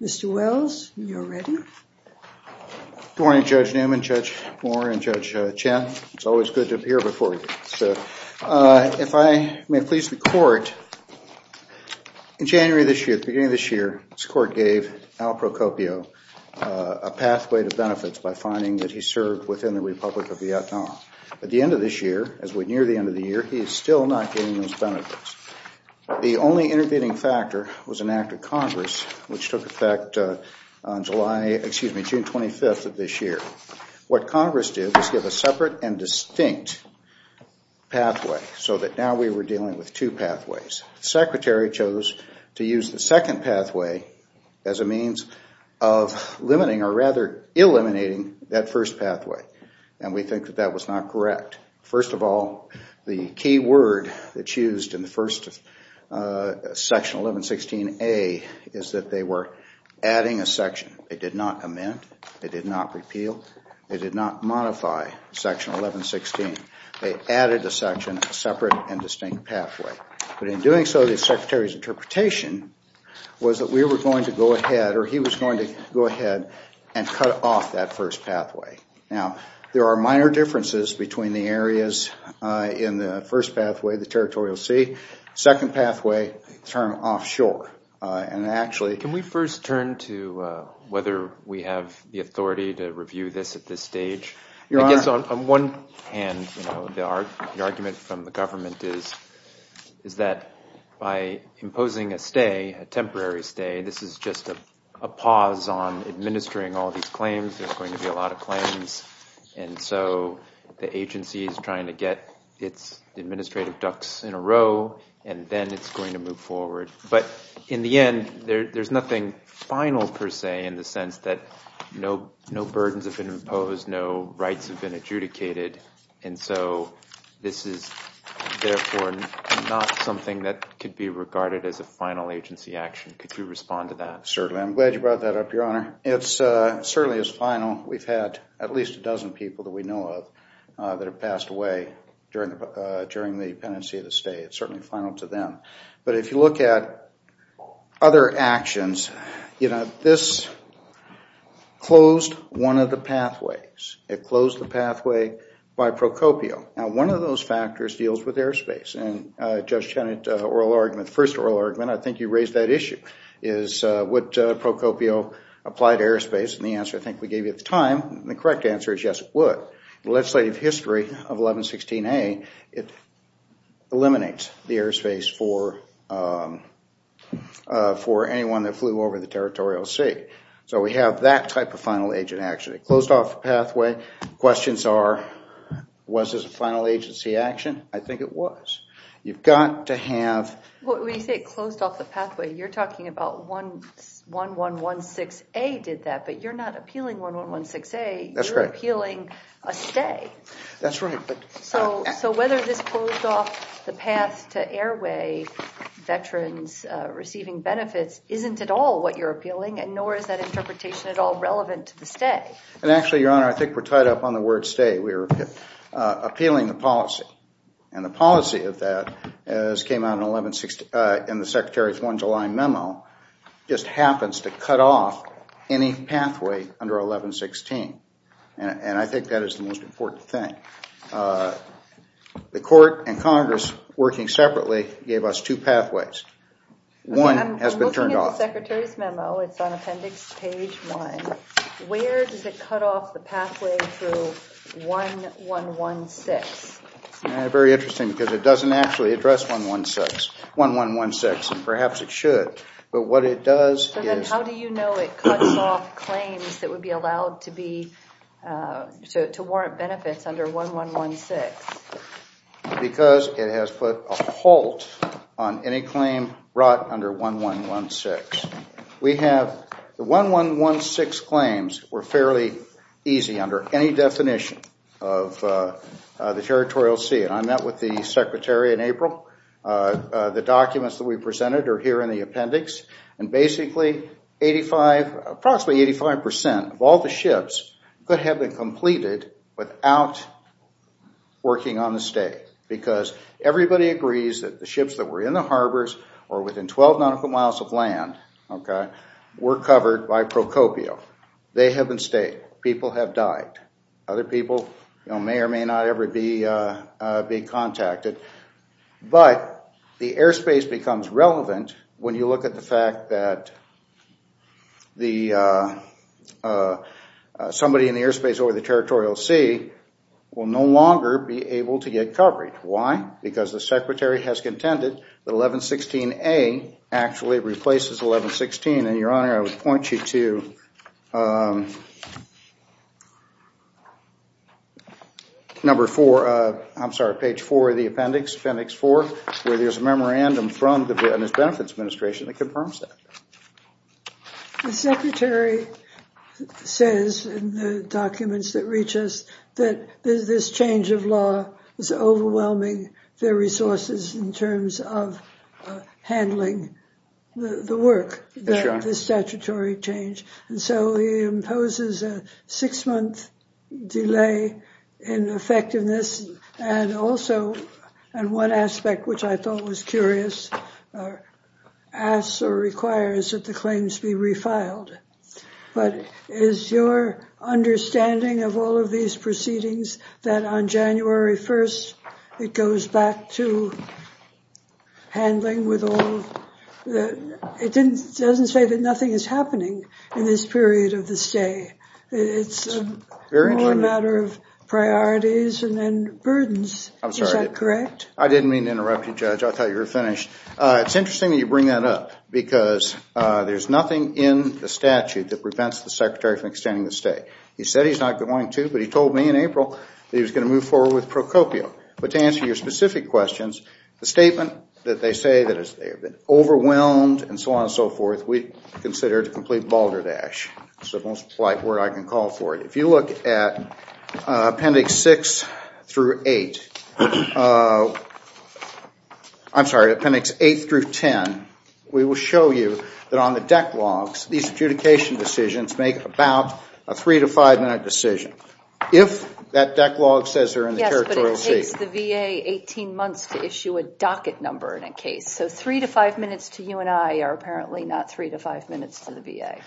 Mr. Wells, you are ready Good morning Judge Newman, Judge Moore, and Judge Chen. It is always good to appear before you. If I may please the Court, in January this year, the beginning of this year, this Court gave Al Procopio a pathway to benefits by finding that he served within the Republic of Vietnam. At the end of this year, as we near the end of the year, he is still not getting those benefits. The only intervening factor was an act of Congress which took effect on June 25th of this year. What Congress did was give a separate and distinct pathway so that now we were dealing with two pathways. The Secretary chose to use the second pathway as a means of eliminating that first pathway. We think that was not correct. First of all, the key word that is used in the first section, 1116A, is that they were adding a section. They did not amend, they did not repeal, they did not modify section 1116. They added a section, a separate and distinct pathway. But in doing so, the Secretary's interpretation was that we were going to go ahead, or he was going to go ahead and cut off that first pathway. Now, there are minor differences between the areas in the first pathway, the territorial sea. The second pathway, the term offshore, and actually Can we first turn to whether we have the authority to review this at this stage? I guess on one hand, the argument from the government is that by imposing a stay, a temporary stay, this is just a pause on administering all these claims. There's going to be a lot of claims. And so the agency is trying to get its administrative ducks in a row, and then it's going to move forward. But in the end, there's nothing final, per se, in the sense that no burdens have been imposed, no rights have been adjudicated. And so this is therefore not something that could be regarded as a final agency action. Could you respond to that? Certainly. I'm glad you brought that up, Your Honor. It certainly is final. We've had at least a dozen people that we know of that have passed away during the pendency of the stay. It's certainly final to them. But if you look at other actions, you know, this closed one of the pathways. It closed the pathway by Procopio. Now, one of those factors deals with airspace. And Judge Cheney's first oral argument, I think you raised that issue, is would Procopio apply to airspace? And the answer I think we gave you at the time, the correct answer is yes, it would. But the legislative history of 1116A, it eliminates the airspace for anyone that flew over the territorial sea. So we have that type of final agent action. It closed off the pathway. Questions are, was this a final agency action? I think it was. You've got to have... When you say it closed off the pathway, you're talking about 1116A did that, but you're not appealing 1116A. That's right. You're appealing a stay. That's right. So whether this closed off the path to airway veterans receiving benefits isn't at all what you're appealing, and nor is that interpretation at all relevant to the stay. And actually, Your Honor, I think we're tied up on the word stay. We're appealing the policy. And the policy of that, as came out in the Secretary's 1 July memo, just happens to cut off any pathway under 1116. And I think that is the most important thing. The Court and Congress, working separately, gave us two pathways. One has been turned off. I'm looking at the Secretary's memo. It's on Appendix Page 1. Where does it cut off the pathway to 1116? Very interesting, because it doesn't actually address 1116, and perhaps it should. But what it does is... ...to warrant benefits under 1116. Because it has put a halt on any claim brought under 1116. We have... The 1116 claims were fairly easy under any definition of the territorial sea. And I met with the Secretary in April. The documents that we presented are here in the appendix. And basically, approximately 85% of all the ships could have been completed without working on the stay. Because everybody agrees that the ships that were in the harbors, or within 12 nautical miles of land, were covered by Procopio. They have been stayed. People have died. Other people may or may not ever be contacted. But the airspace becomes relevant when you look at the fact that somebody in the airspace over the territorial sea will no longer be able to get covered. Why? Because the Secretary has contended that 1116A actually replaces 1116. And Your Honor, I would point you to page 4 of the appendix, where there is a memorandum from the Business Benefits Administration that confirms that. The Secretary says in the documents that reach us that this change of law is overwhelming their resources in terms of handling the work, the statutory change. And so he imposes a six-month delay in effectiveness. And also, and one aspect which I thought was curious, asks or requires that the claims be refiled. But is your understanding of all of these proceedings that on January 1st, it goes back to handling with all, it doesn't say that nothing is happening in this period of the stay. It's more a matter of priorities and burdens, is that correct? I didn't mean to interrupt you, Judge, I thought you were finished. It's interesting that you bring that up, because there's nothing in the statute that prevents the Secretary from extending the stay. He said he's not going to, but he told me in April that he was going to move forward with Procopio. But to answer your specific questions, the statement that they say that they've been overwhelmed and so on and so forth, we consider it a complete balderdash. It's the most polite word I can call for it. If you look at Appendix 6 through 8, I'm sorry, Appendix 8 through 10, we will show you that on the deck logs, these adjudication decisions make about a 3 to 5 minute decision. If that deck log says they're in the territorial safe. Yes, but it takes the VA 18 months to issue a docket number in a case. So 3 to 5 minutes to you and I are apparently not 3 to 5 minutes to the VA.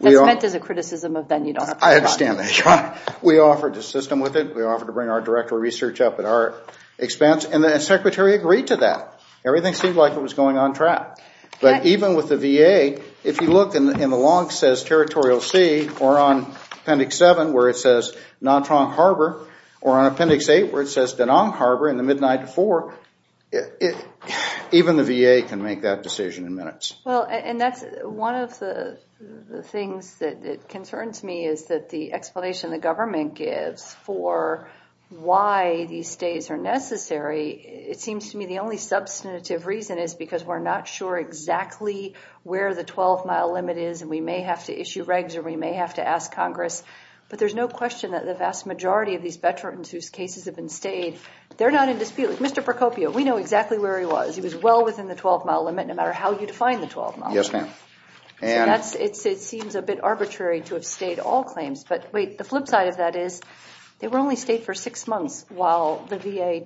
That's meant as a criticism of then you don't have to do it. I understand that. We offered to assist them with it. We offered to bring our director of research up at our expense and the Secretary agreed to that. Everything seemed like it was going on track. But even with the VA, if you look and the log says territorial sea or on Appendix 7 where it says Nantrong Harbor or on Appendix 8 where it says Danang Harbor in the midnight to 4, even the VA can make that decision in minutes. Well, and that's one of the things that concerns me is that the explanation the government gives for why these stays are necessary, it seems to me the only substantive reason is because we're not sure exactly where the 12 mile limit is and we may have to issue regs or we may have to ask Congress. But there's no question that the vast majority of these veterans whose cases have been stayed, they're not in dispute. Mr. Procopio, we know exactly where he was. He was well within the 12 mile limit no matter how you define the 12 mile limit. It seems a bit arbitrary to have stayed all claims. But wait, the flip side of that is they were only stayed for six months while the VA,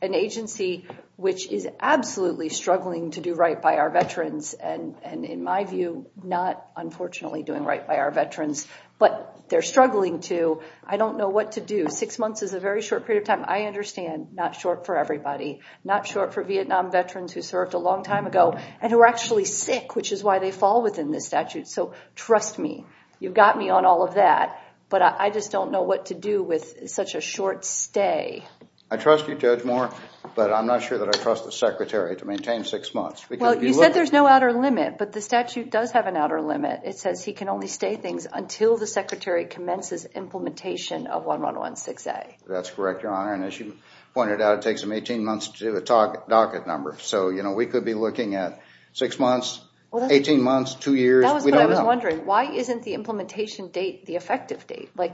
an agency which is absolutely struggling to do right by our veterans and in my view, not unfortunately doing right by our veterans, but they're struggling to, I don't know what to do. Six months is a very short period of time. I understand not short for everybody. Not short for Vietnam veterans who served a long time ago and who are actually sick, which is why they fall within this statute. So trust me, you've got me on all of that. But I just don't know what to do with such a short stay. I trust you Judge Moore, but I'm not sure that I trust the secretary to maintain six months. Well, you said there's no outer limit, but the statute does have an outer limit. It says he can only stay things until the secretary commences implementation of 1116A. That's correct, Your Honor. And as you pointed out, it takes them 18 months to do a docket number. So we could be looking at six months, 18 months, two years, we don't know. That's what I was wondering. Why isn't the implementation date the effective date? I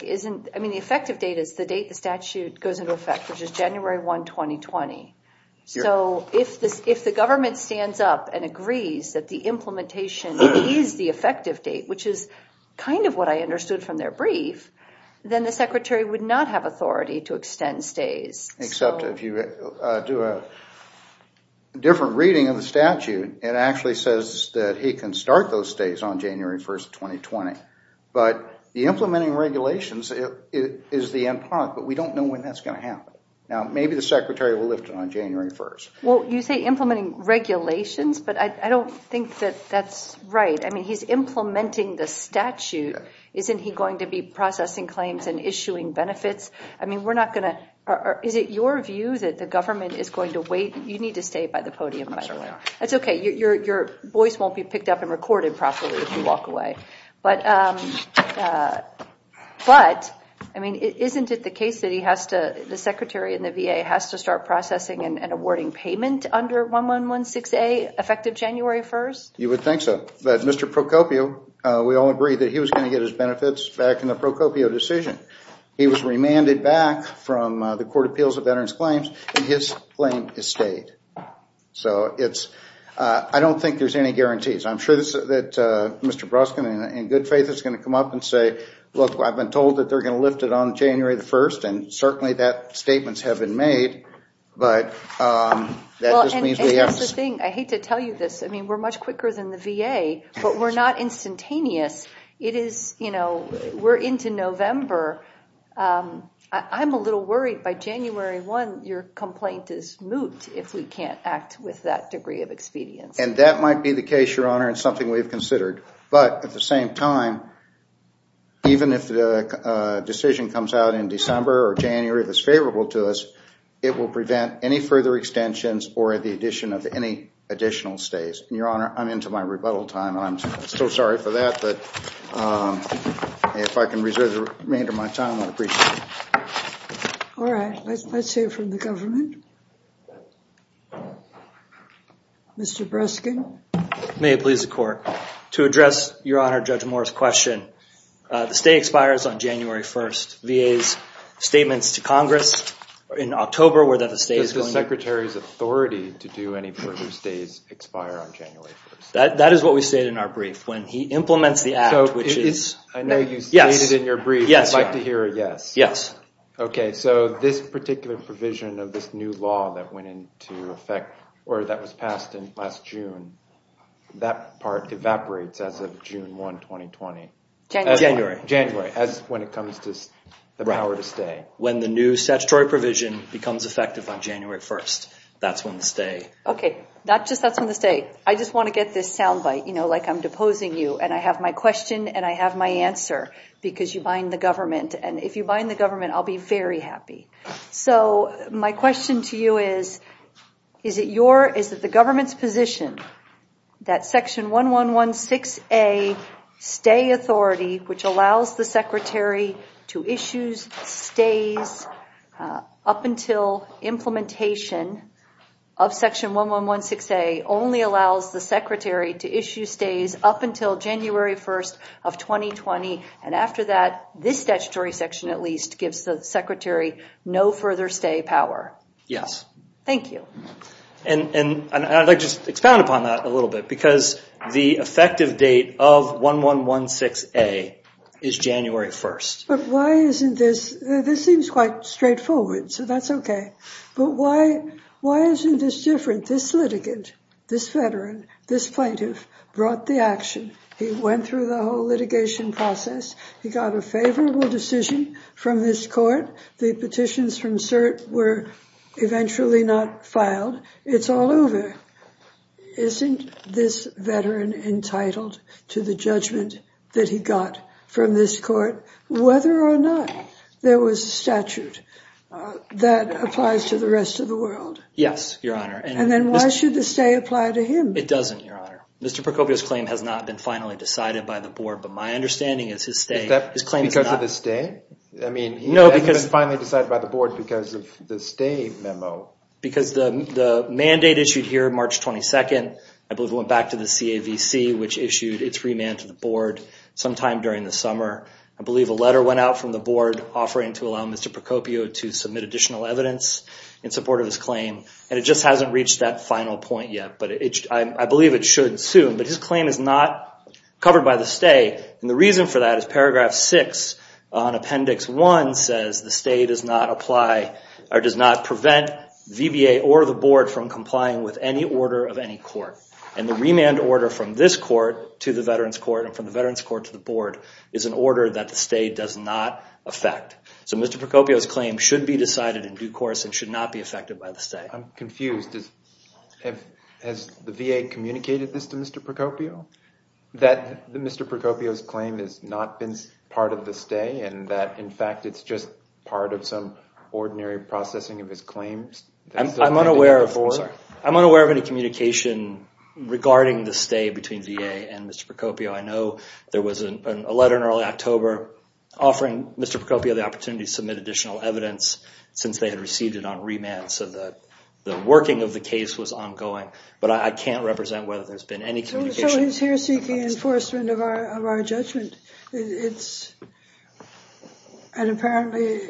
mean, the effective date is the date the statute goes into effect, which is January 1, 2020. So if the government stands up and agrees that the implementation is the effective date, which is kind of what I understood from their brief, then the secretary would not have authority to extend stays. Except if you do a different reading of the statute, it actually says that he can start those stays on January 1, 2020. But the implementing regulations is the end product, but we don't know when that's going to happen. Now, maybe the secretary will lift it on January 1. Well, you say implementing regulations, but I don't think that that's right. I mean, he's implementing the statute. Isn't he going to be processing claims and issuing benefits? I mean, we're not going to, or is it your view that the government is going to wait? You need to stay by the podium, by the way. That's okay. Your voice won't be picked up and recorded properly if you walk away. But I mean, isn't it the case that he has to, the secretary and the VA has to start processing and awarding payment under 1116A, effective January 1? You would think so. But Mr. Procopio, we all agreed that he was going to get his benefits back in the Procopio decision. He was remanded back from the Court of Appeals of Veterans Claims, and his claim is stayed. So it's, I don't think there's any guarantees. I'm sure that Mr. Broskin, in good faith, is going to come up and say, look, I've been told that they're going to lift it on January 1, and certainly that statements have been made. But that just means we have to- Well, and here's the thing. I hate to tell you this. I mean, we're much quicker than the VA, but we're not instantaneous. It is, you know, we're into November. I'm a little worried by January 1, your complaint is moot if we can't act with that degree of expedience. And that might be the case, Your Honor, and something we've considered. But at the same time, even if the decision comes out in December or January that's favorable to us, it will prevent any further extensions or the addition of any additional stays. Your Honor, I'm into my rebuttal time, and I'm so sorry for that, but if I can reserve the remainder of my time, I'd appreciate it. All right. Let's hear from the government. Mr. Broskin. May it please the Court. To address, Your Honor, Judge Moore's question, the stay expires on January 1. VA's statements to Congress in October were that the stay is going to- That is what we stated in our brief. When he implements the act, which is- I know you stated in your brief you'd like to hear a yes. Yes. Okay. So this particular provision of this new law that went into effect, or that was passed in last June, that part evaporates as of June 1, 2020. January. January. As when it comes to the power to stay. When the new statutory provision becomes effective on January 1, that's when the stay- Okay. Not just that's when the stay. I just want to get this soundbite, you know, like I'm deposing you, and I have my question and I have my answer, because you bind the government. And if you bind the government, I'll be very happy. So my question to you is, is it the government's position that Section 1116A stay authority, which allows the Secretary to issue stays up until implementation of Section 1116A only allows the Secretary to issue stays up until January 1st of 2020? And after that, this statutory section, at least, gives the Secretary no further stay power? Yes. Thank you. And I'd like to just expound upon that a little bit, because the effective date of 1116A is January 1st. But why isn't this, this seems quite straightforward, so that's okay, but why isn't this different? This litigant, this veteran, this plaintiff brought the action. He went through the whole litigation process. He got a favorable decision from this court. The petitions from cert were eventually not filed. It's all over. Isn't this veteran entitled to the judgment that he got from this court, whether or not there was a statute that applies to the rest of the world? Yes, Your Honor. And then why should the stay apply to him? It doesn't, Your Honor. Mr. Procopio's claim has not been finally decided by the board, but my understanding is his stay- Because of the stay? I mean- It hasn't been finally decided by the board because of the stay memo. Because the mandate issued here March 22nd, I believe it went back to the CAVC, which issued its remand to the board sometime during the summer. I believe a letter went out from the board offering to allow Mr. Procopio to submit additional evidence in support of his claim, and it just hasn't reached that final point yet. But I believe it should soon, but his claim is not covered by the stay, and the reason for that is paragraph six on appendix one says the stay does not apply, or does not prevent VBA or the board from complying with any order of any court. And the remand order from this court to the veterans court and from the veterans court to the board is an order that the stay does not affect. So Mr. Procopio's claim should be decided in due course and should not be affected by the stay. I'm confused. Has the VA communicated this to Mr. Procopio? That Mr. Procopio's claim has not been part of the stay and that, in fact, it's just part of some ordinary processing of his claims? I'm unaware of any communication regarding the stay between VA and Mr. Procopio. I know there was a letter in early October offering Mr. Procopio the opportunity to submit additional evidence since they had received it on remand, so that the working of the case was ongoing. But I can't represent whether there's been any communication. So he's here seeking enforcement of our judgment. And apparently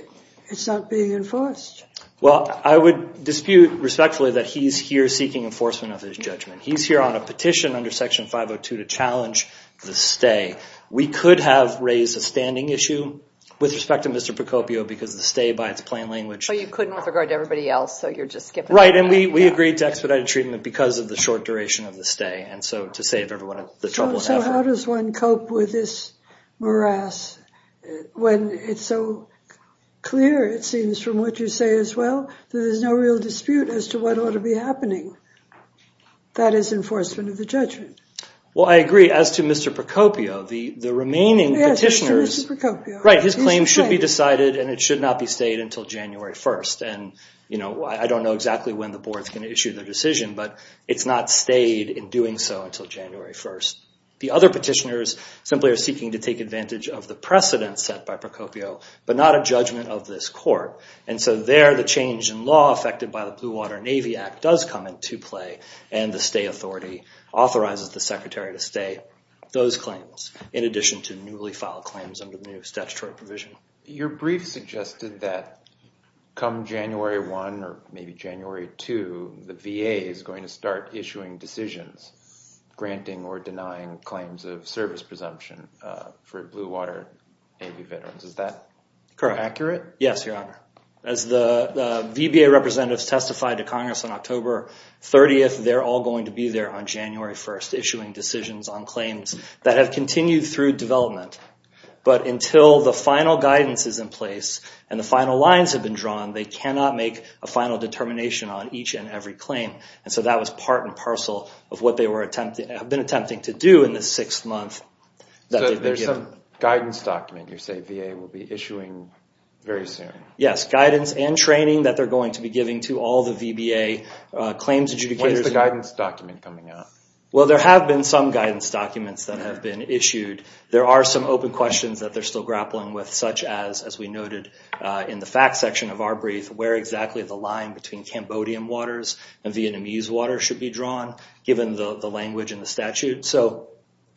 it's not being enforced. Well, I would dispute respectfully that he's here seeking enforcement of his judgment. He's here on a petition under Section 502 to challenge the stay. We could have raised a standing issue with respect to Mr. Procopio because the stay, by its plain language... But you couldn't with regard to everybody else, so you're just skipping... Right. And we agreed to expedited treatment because of the short duration of the stay. And so to save everyone the trouble... So how does one cope with this morass when it's so clear, it seems, from what you say as well, that there's no real dispute as to what ought to be happening? That is enforcement of the judgment. Well, I agree. As to Mr. Procopio, the remaining petitioners... Yes, Mr. Procopio. Right. His claim should be decided and it should not be stayed until January 1st. I don't know exactly when the board's going to issue the decision, but it's not stayed in doing so until January 1st. The other petitioners simply are seeking to take advantage of the precedent set by Procopio, but not a judgment of this court. And so there, the change in law affected by the Blue Water Navy Act does come into play and the stay authority authorizes the secretary to stay those claims, in addition to newly filed claims under the new statutory provision. Your brief suggested that come January 1 or maybe January 2, the VA is going to start issuing decisions, granting or denying claims of service presumption for Blue Water Navy veterans. Is that accurate? Yes, Your Honor. As the VBA representatives testified to Congress on October 30th, they're all going to be there on January 1st, issuing decisions on claims that have continued through development. But until the final guidance is in place and the final lines have been drawn, they cannot make a final determination on each and every claim. And so that was part and parcel of what they have been attempting to do in the sixth month that they've been given. So there's some guidance document you're saying VA will be issuing very soon? Yes, guidance and training that they're going to be giving to all the VBA claims adjudicators. When is the guidance document coming out? Well, there have been some guidance documents that have been issued. There are some open questions that they're still grappling with, such as, as we noted in the facts section of our brief, where exactly the line between Cambodian waters and Vietnamese waters should be drawn, given the language in the statute. So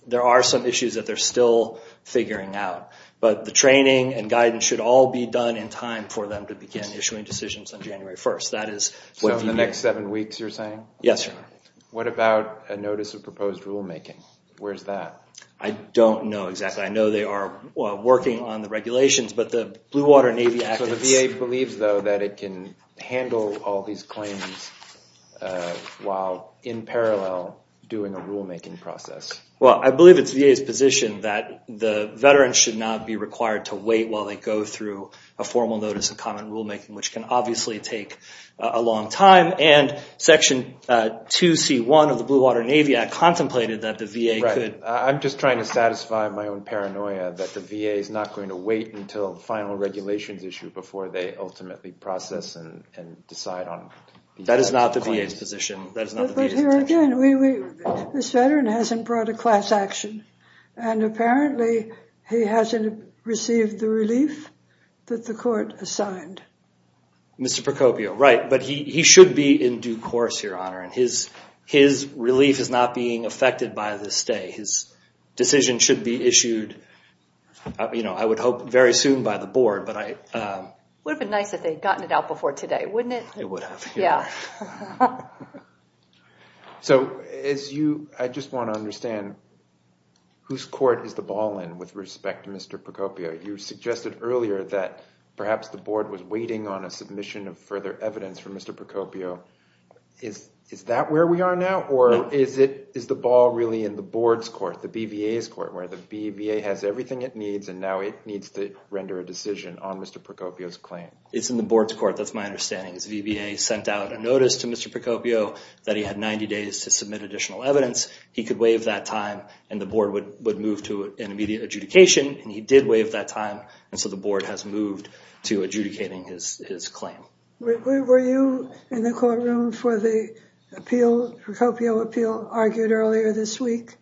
there are some issues that they're still figuring out. But the training and guidance should all be done in time for them to begin issuing decisions on January 1st. That is what VBA... So in the next seven weeks, you're saying? Yes, Your Honor. What about a notice of proposed rulemaking? Where's that? I don't know exactly. I know they are working on the regulations, but the Blue Water Navy Act is... So the VA believes, though, that it can handle all these claims while in parallel doing a rulemaking process? Well, I believe it's VA's position that the veterans should not be required to wait while they go through a formal notice of common rulemaking, which can obviously take a long time. And Section 2C1 of the Blue Water Navy Act contemplated that the VA could... I'm just trying to satisfy my own paranoia that the VA is not going to wait until final regulations issue before they ultimately process and decide on... That is not the VA's position. That is not the VA's intention. But here again, this veteran hasn't brought a class action. And apparently, he hasn't received the relief that the court assigned. Mr. Procopio, right. But he should be in due course, Your Honor. His relief is not being affected by this day. His decision should be issued, I would hope, very soon by the board. But I... It would have been nice if they had gotten it out before today, wouldn't it? It would have. Yeah. So as you... I just want to understand, whose court is the ball in with respect to Mr. Procopio? You suggested earlier that perhaps the board was waiting on a submission of further evidence for Mr. Procopio. Is that where we are now? Or is the ball really in the board's court, the BVA's court, where the BVA has everything it needs, and now it needs to render a decision on Mr. Procopio's claim? It's in the board's court. That's my understanding. The BVA sent out a notice to Mr. Procopio that he had 90 days to submit additional evidence. He could waive that time, and the board would move to an immediate adjudication. And he did waive that time, and so the board has moved to adjudicating his claim. Were you in the courtroom for the appeal, Procopio appeal, argued earlier this week?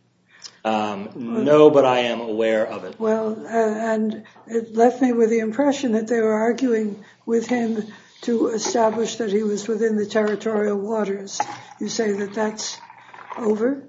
No, but I am aware of it. And it left me with the impression that they were arguing with him to establish that he was within the territorial waters. You say that that's over?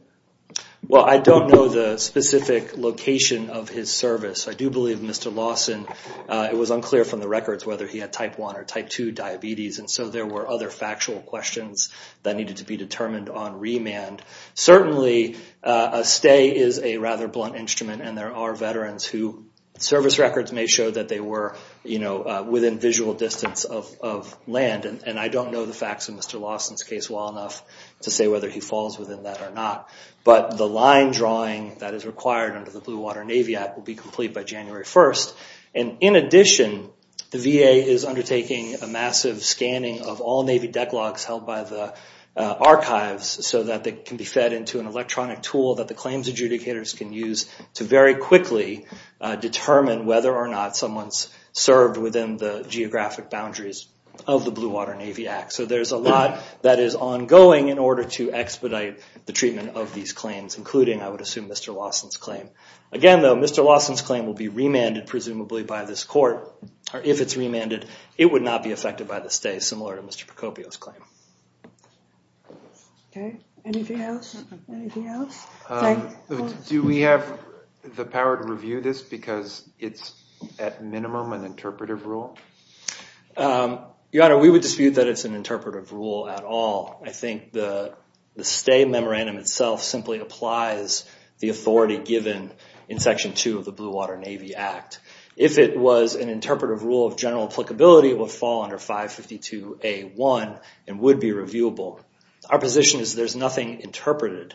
Well, I don't know the specific location of his service. I do believe Mr. Lawson, it was unclear from the records whether he had Type 1 or Type 2 diabetes, and so there were other factual questions that needed to be determined on remand. Certainly, a stay is a rather blunt instrument, and there are veterans whose service records may show that they were within visual distance of land. And I don't know the facts of Mr. Lawson's case well enough to say whether he falls within that or not. But the line drawing that is required under the Blue Water Navy Act will be complete by January 1st. In addition, the VA is undertaking a massive scanning of all Navy deck logs held by the archives so that they can be fed into an electronic tool that the claims adjudicators can use to very quickly determine whether or not someone's served within the geographic boundaries of the Blue Water Navy Act. So there's a lot that is ongoing in order to expedite the treatment of these claims, Again, though, Mr. Lawson's claim will be remanded, presumably, by this court. If it's remanded, it would not be affected by the stay, similar to Mr. Procopio's claim. Okay. Anything else? Anything else? Do we have the power to review this because it's at minimum an interpretive rule? Your Honor, we would dispute that it's an interpretive rule at all. I think the stay memorandum itself simply applies the authority given in Section 2 of the Blue Water Navy Act. If it was an interpretive rule of general applicability, it would fall under 552A1 and would be reviewable. Our position is there's nothing interpreted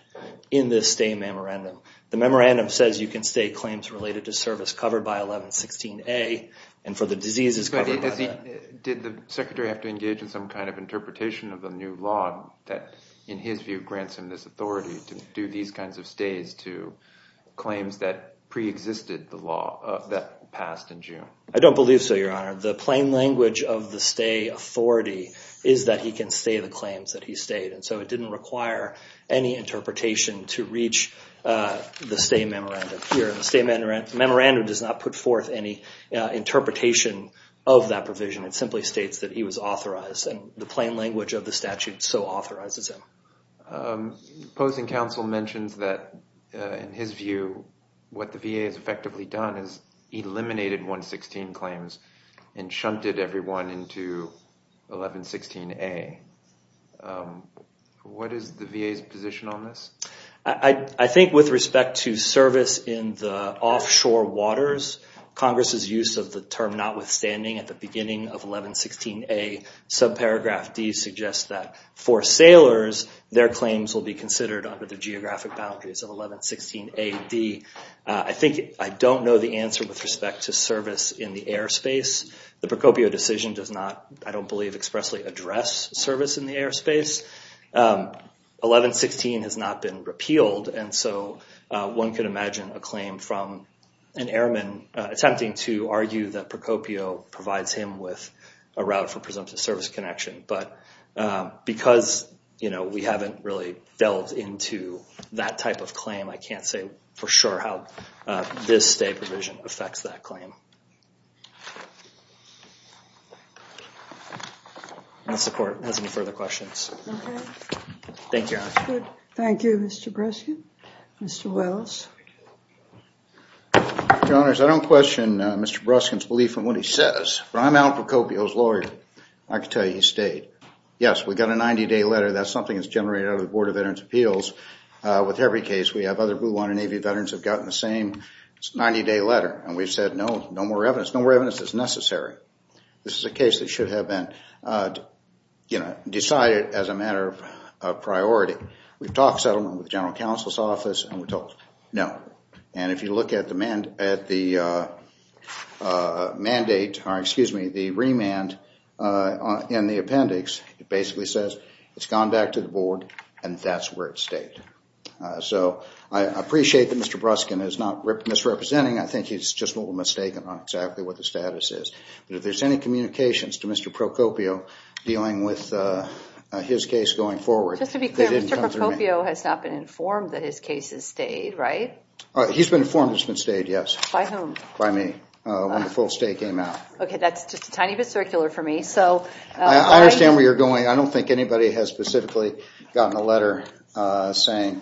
in this stay memorandum. The memorandum says you can stay claims related to service covered by 1116A and for the diseases covered by that. Did the Secretary have to engage in some kind of interpretation of the new law that, in his view, grants him this authority to do these kinds of stays to claims that preexisted the law that passed in June? I don't believe so, Your Honor. The plain language of the stay authority is that he can stay the claims that he stayed. It didn't require any interpretation to reach the stay memorandum here. The stay memorandum does not put forth any interpretation of that provision. It simply states that he was authorized and the plain language of the statute so authorizes him. The opposing counsel mentions that, in his view, what the VA has effectively done is eliminated 116 claims and shunted everyone into 1116A. What is the VA's position on this? I think with respect to service in the offshore waters, Congress's use of the term notwithstanding at the beginning of 1116A, subparagraph D suggests that for sailors, their claims will be considered under the geographic boundaries of 1116A-D. I think I don't know the answer with respect to service in the airspace. The Procopio decision does not, I don't believe, expressly address service in the airspace. 1116 has not been repealed, and so one could imagine a claim from an airman attempting to argue that Procopio provides him with a route for presumptive service connection. But because we haven't really delved into that type of claim, I can't say for sure how this stay provision affects that claim. Thank you. Mr. Breskin. Mr. Wells. Your Honors, I don't question Mr. Breskin's belief in what he says, but I'm Al Procopio's lawyer. I can tell you he stayed. Yes, we got a 90-day letter. That's something that's generated out of the Board of Veterans' Appeals. With every case we have, other Blue Water Navy veterans have gotten the same 90-day is necessary. This is a case that should have been decided as a matter of priority. We've talked settlement with the General Counsel's Office, and we're told no. And if you look at the remand in the appendix, it basically says it's gone back to the Board, and that's where it stayed. So I appreciate that Mr. Breskin is not misrepresenting. I think he's just a little mistaken on exactly what the status is. But if there's any communications to Mr. Procopio dealing with his case going forward, Just to be clear, Mr. Procopio has not been informed that his case has stayed, right? He's been informed it's been stayed, yes. By whom? By me. When the full stay came out. Okay. That's just a tiny bit circular for me. I understand where you're going. I don't think anybody has specifically gotten a letter saying,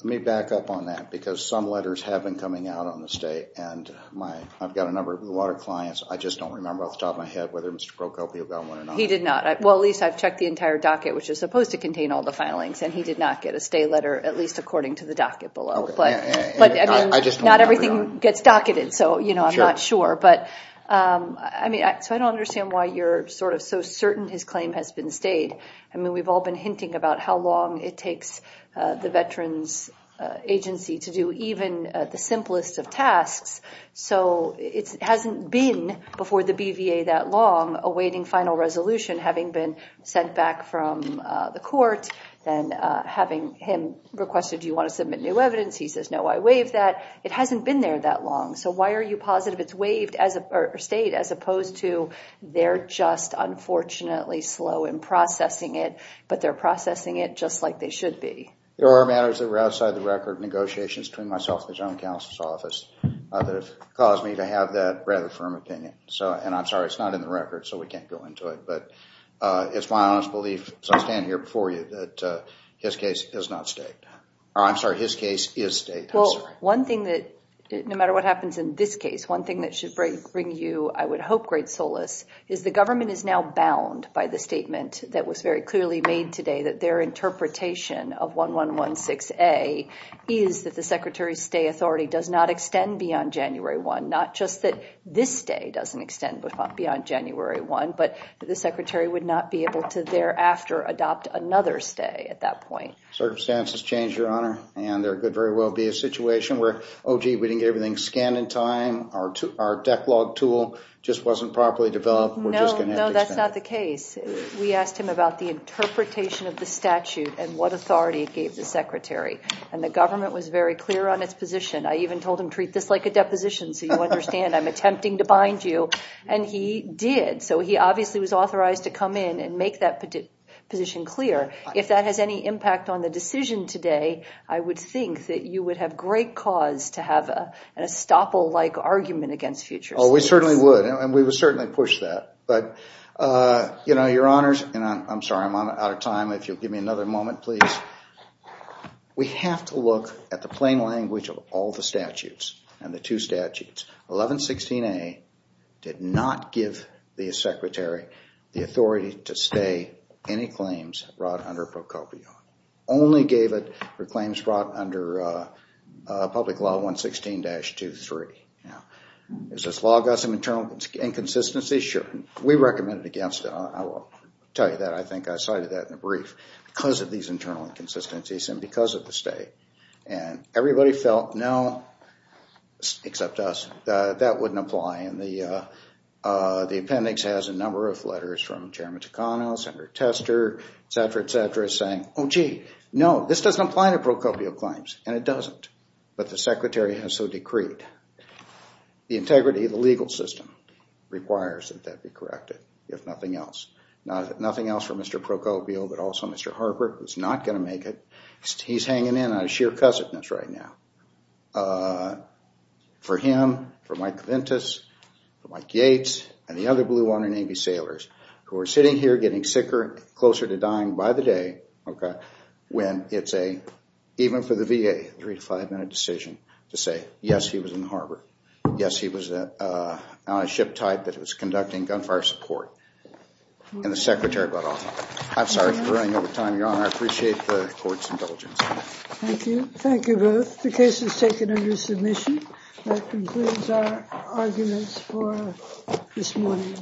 let me back up on that, because some letters have been coming out on the stay, and I've got a number of water clients. I just don't remember off the top of my head whether Mr. Procopio got one or not. He did not. Well, at least I've checked the entire docket, which is supposed to contain all the filings, and he did not get a stay letter, at least according to the docket below. I just don't remember. Not everything gets docketed, so I'm not sure. So I don't understand why you're sort of so certain his claim has been stayed. We've all been hinting about how long it takes the Veterans Agency to do even the simplest of tasks, so it hasn't been before the BVA that long awaiting final resolution, having been sent back from the court, then having him requested, do you want to submit new evidence, he says, no, I waive that. It hasn't been there that long, so why are you positive it's stayed as opposed to they're just unfortunately slow in processing it, but they're processing it just like they should be? There are matters that were outside the record, negotiations between myself and the General Counsel's Office, that have caused me to have that rather firm opinion, and I'm sorry, it's not in the record, so we can't go into it, but it's my honest belief, so I stand here for you, that his case is not stayed, or I'm sorry, his case is stayed, I'm sorry. One thing that, no matter what happens in this case, one thing that should bring you, I would hope, great solace, is the government is now bound by the statement that was very clearly made today, that their interpretation of 1116A is that the Secretary's stay authority does not extend beyond January 1, not just that this stay doesn't extend beyond January 1, but that the Secretary would not be able to thereafter adopt another stay at that point. Circumstances change, Your Honor, and there could very well be a situation where, oh gee, we didn't get everything scanned in time, our deck log tool just wasn't properly developed, we're just going to have to expand it. No, no, that's not the case. We asked him about the interpretation of the statute and what authority it gave the Secretary, and the government was very clear on its position. I even told him, treat this like a deposition, so you understand I'm attempting to bind you, and he did, so he obviously was authorized to come in and make that position clear. If that has any impact on the decision today, I would think that you would have great cause to have an estoppel-like argument against future stays. Oh, we certainly would, and we would certainly push that, but, you know, Your Honors, and I'm sorry, I'm out of time, if you'll give me another moment, please. We have to look at the plain language of all the statutes, and the two statutes, 1116A, did not give the Secretary the authority to stay any claims brought under Pro Copio. Only gave it for claims brought under Public Law 116-23. Is this law got some internal inconsistencies? Sure. We recommended against it, I will tell you that, I think I cited that in the brief, because of these internal inconsistencies and because of the stay, and everybody felt, no, except us, that wouldn't apply, and the appendix has a number of letters from Chairman Takano, Senator Tester, et cetera, et cetera, saying, oh, gee, no, this doesn't apply to Pro Copio claims, and it doesn't, but the Secretary has so decreed. The integrity of the legal system requires that that be corrected, if nothing else. Nothing else for Mr. Pro Copio, but also Mr. Harper, who's not going to make it, he's hanging in out of sheer cussedness right now. For him, for Mike Ventus, for Mike Yates, and the other Blue Water Navy sailors who are sitting here getting sicker, closer to dying by the day, okay, when it's a, even for the VA, three to five minute decision to say, yes, he was in the harbor, yes, he was on a ship type that was conducting gunfire support, and the Secretary got off. I'm sorry for running over time, Your Honor, I appreciate the Court's indulgence. Thank you. Thank you both. The case is taken under submission. That concludes our arguments for this morning.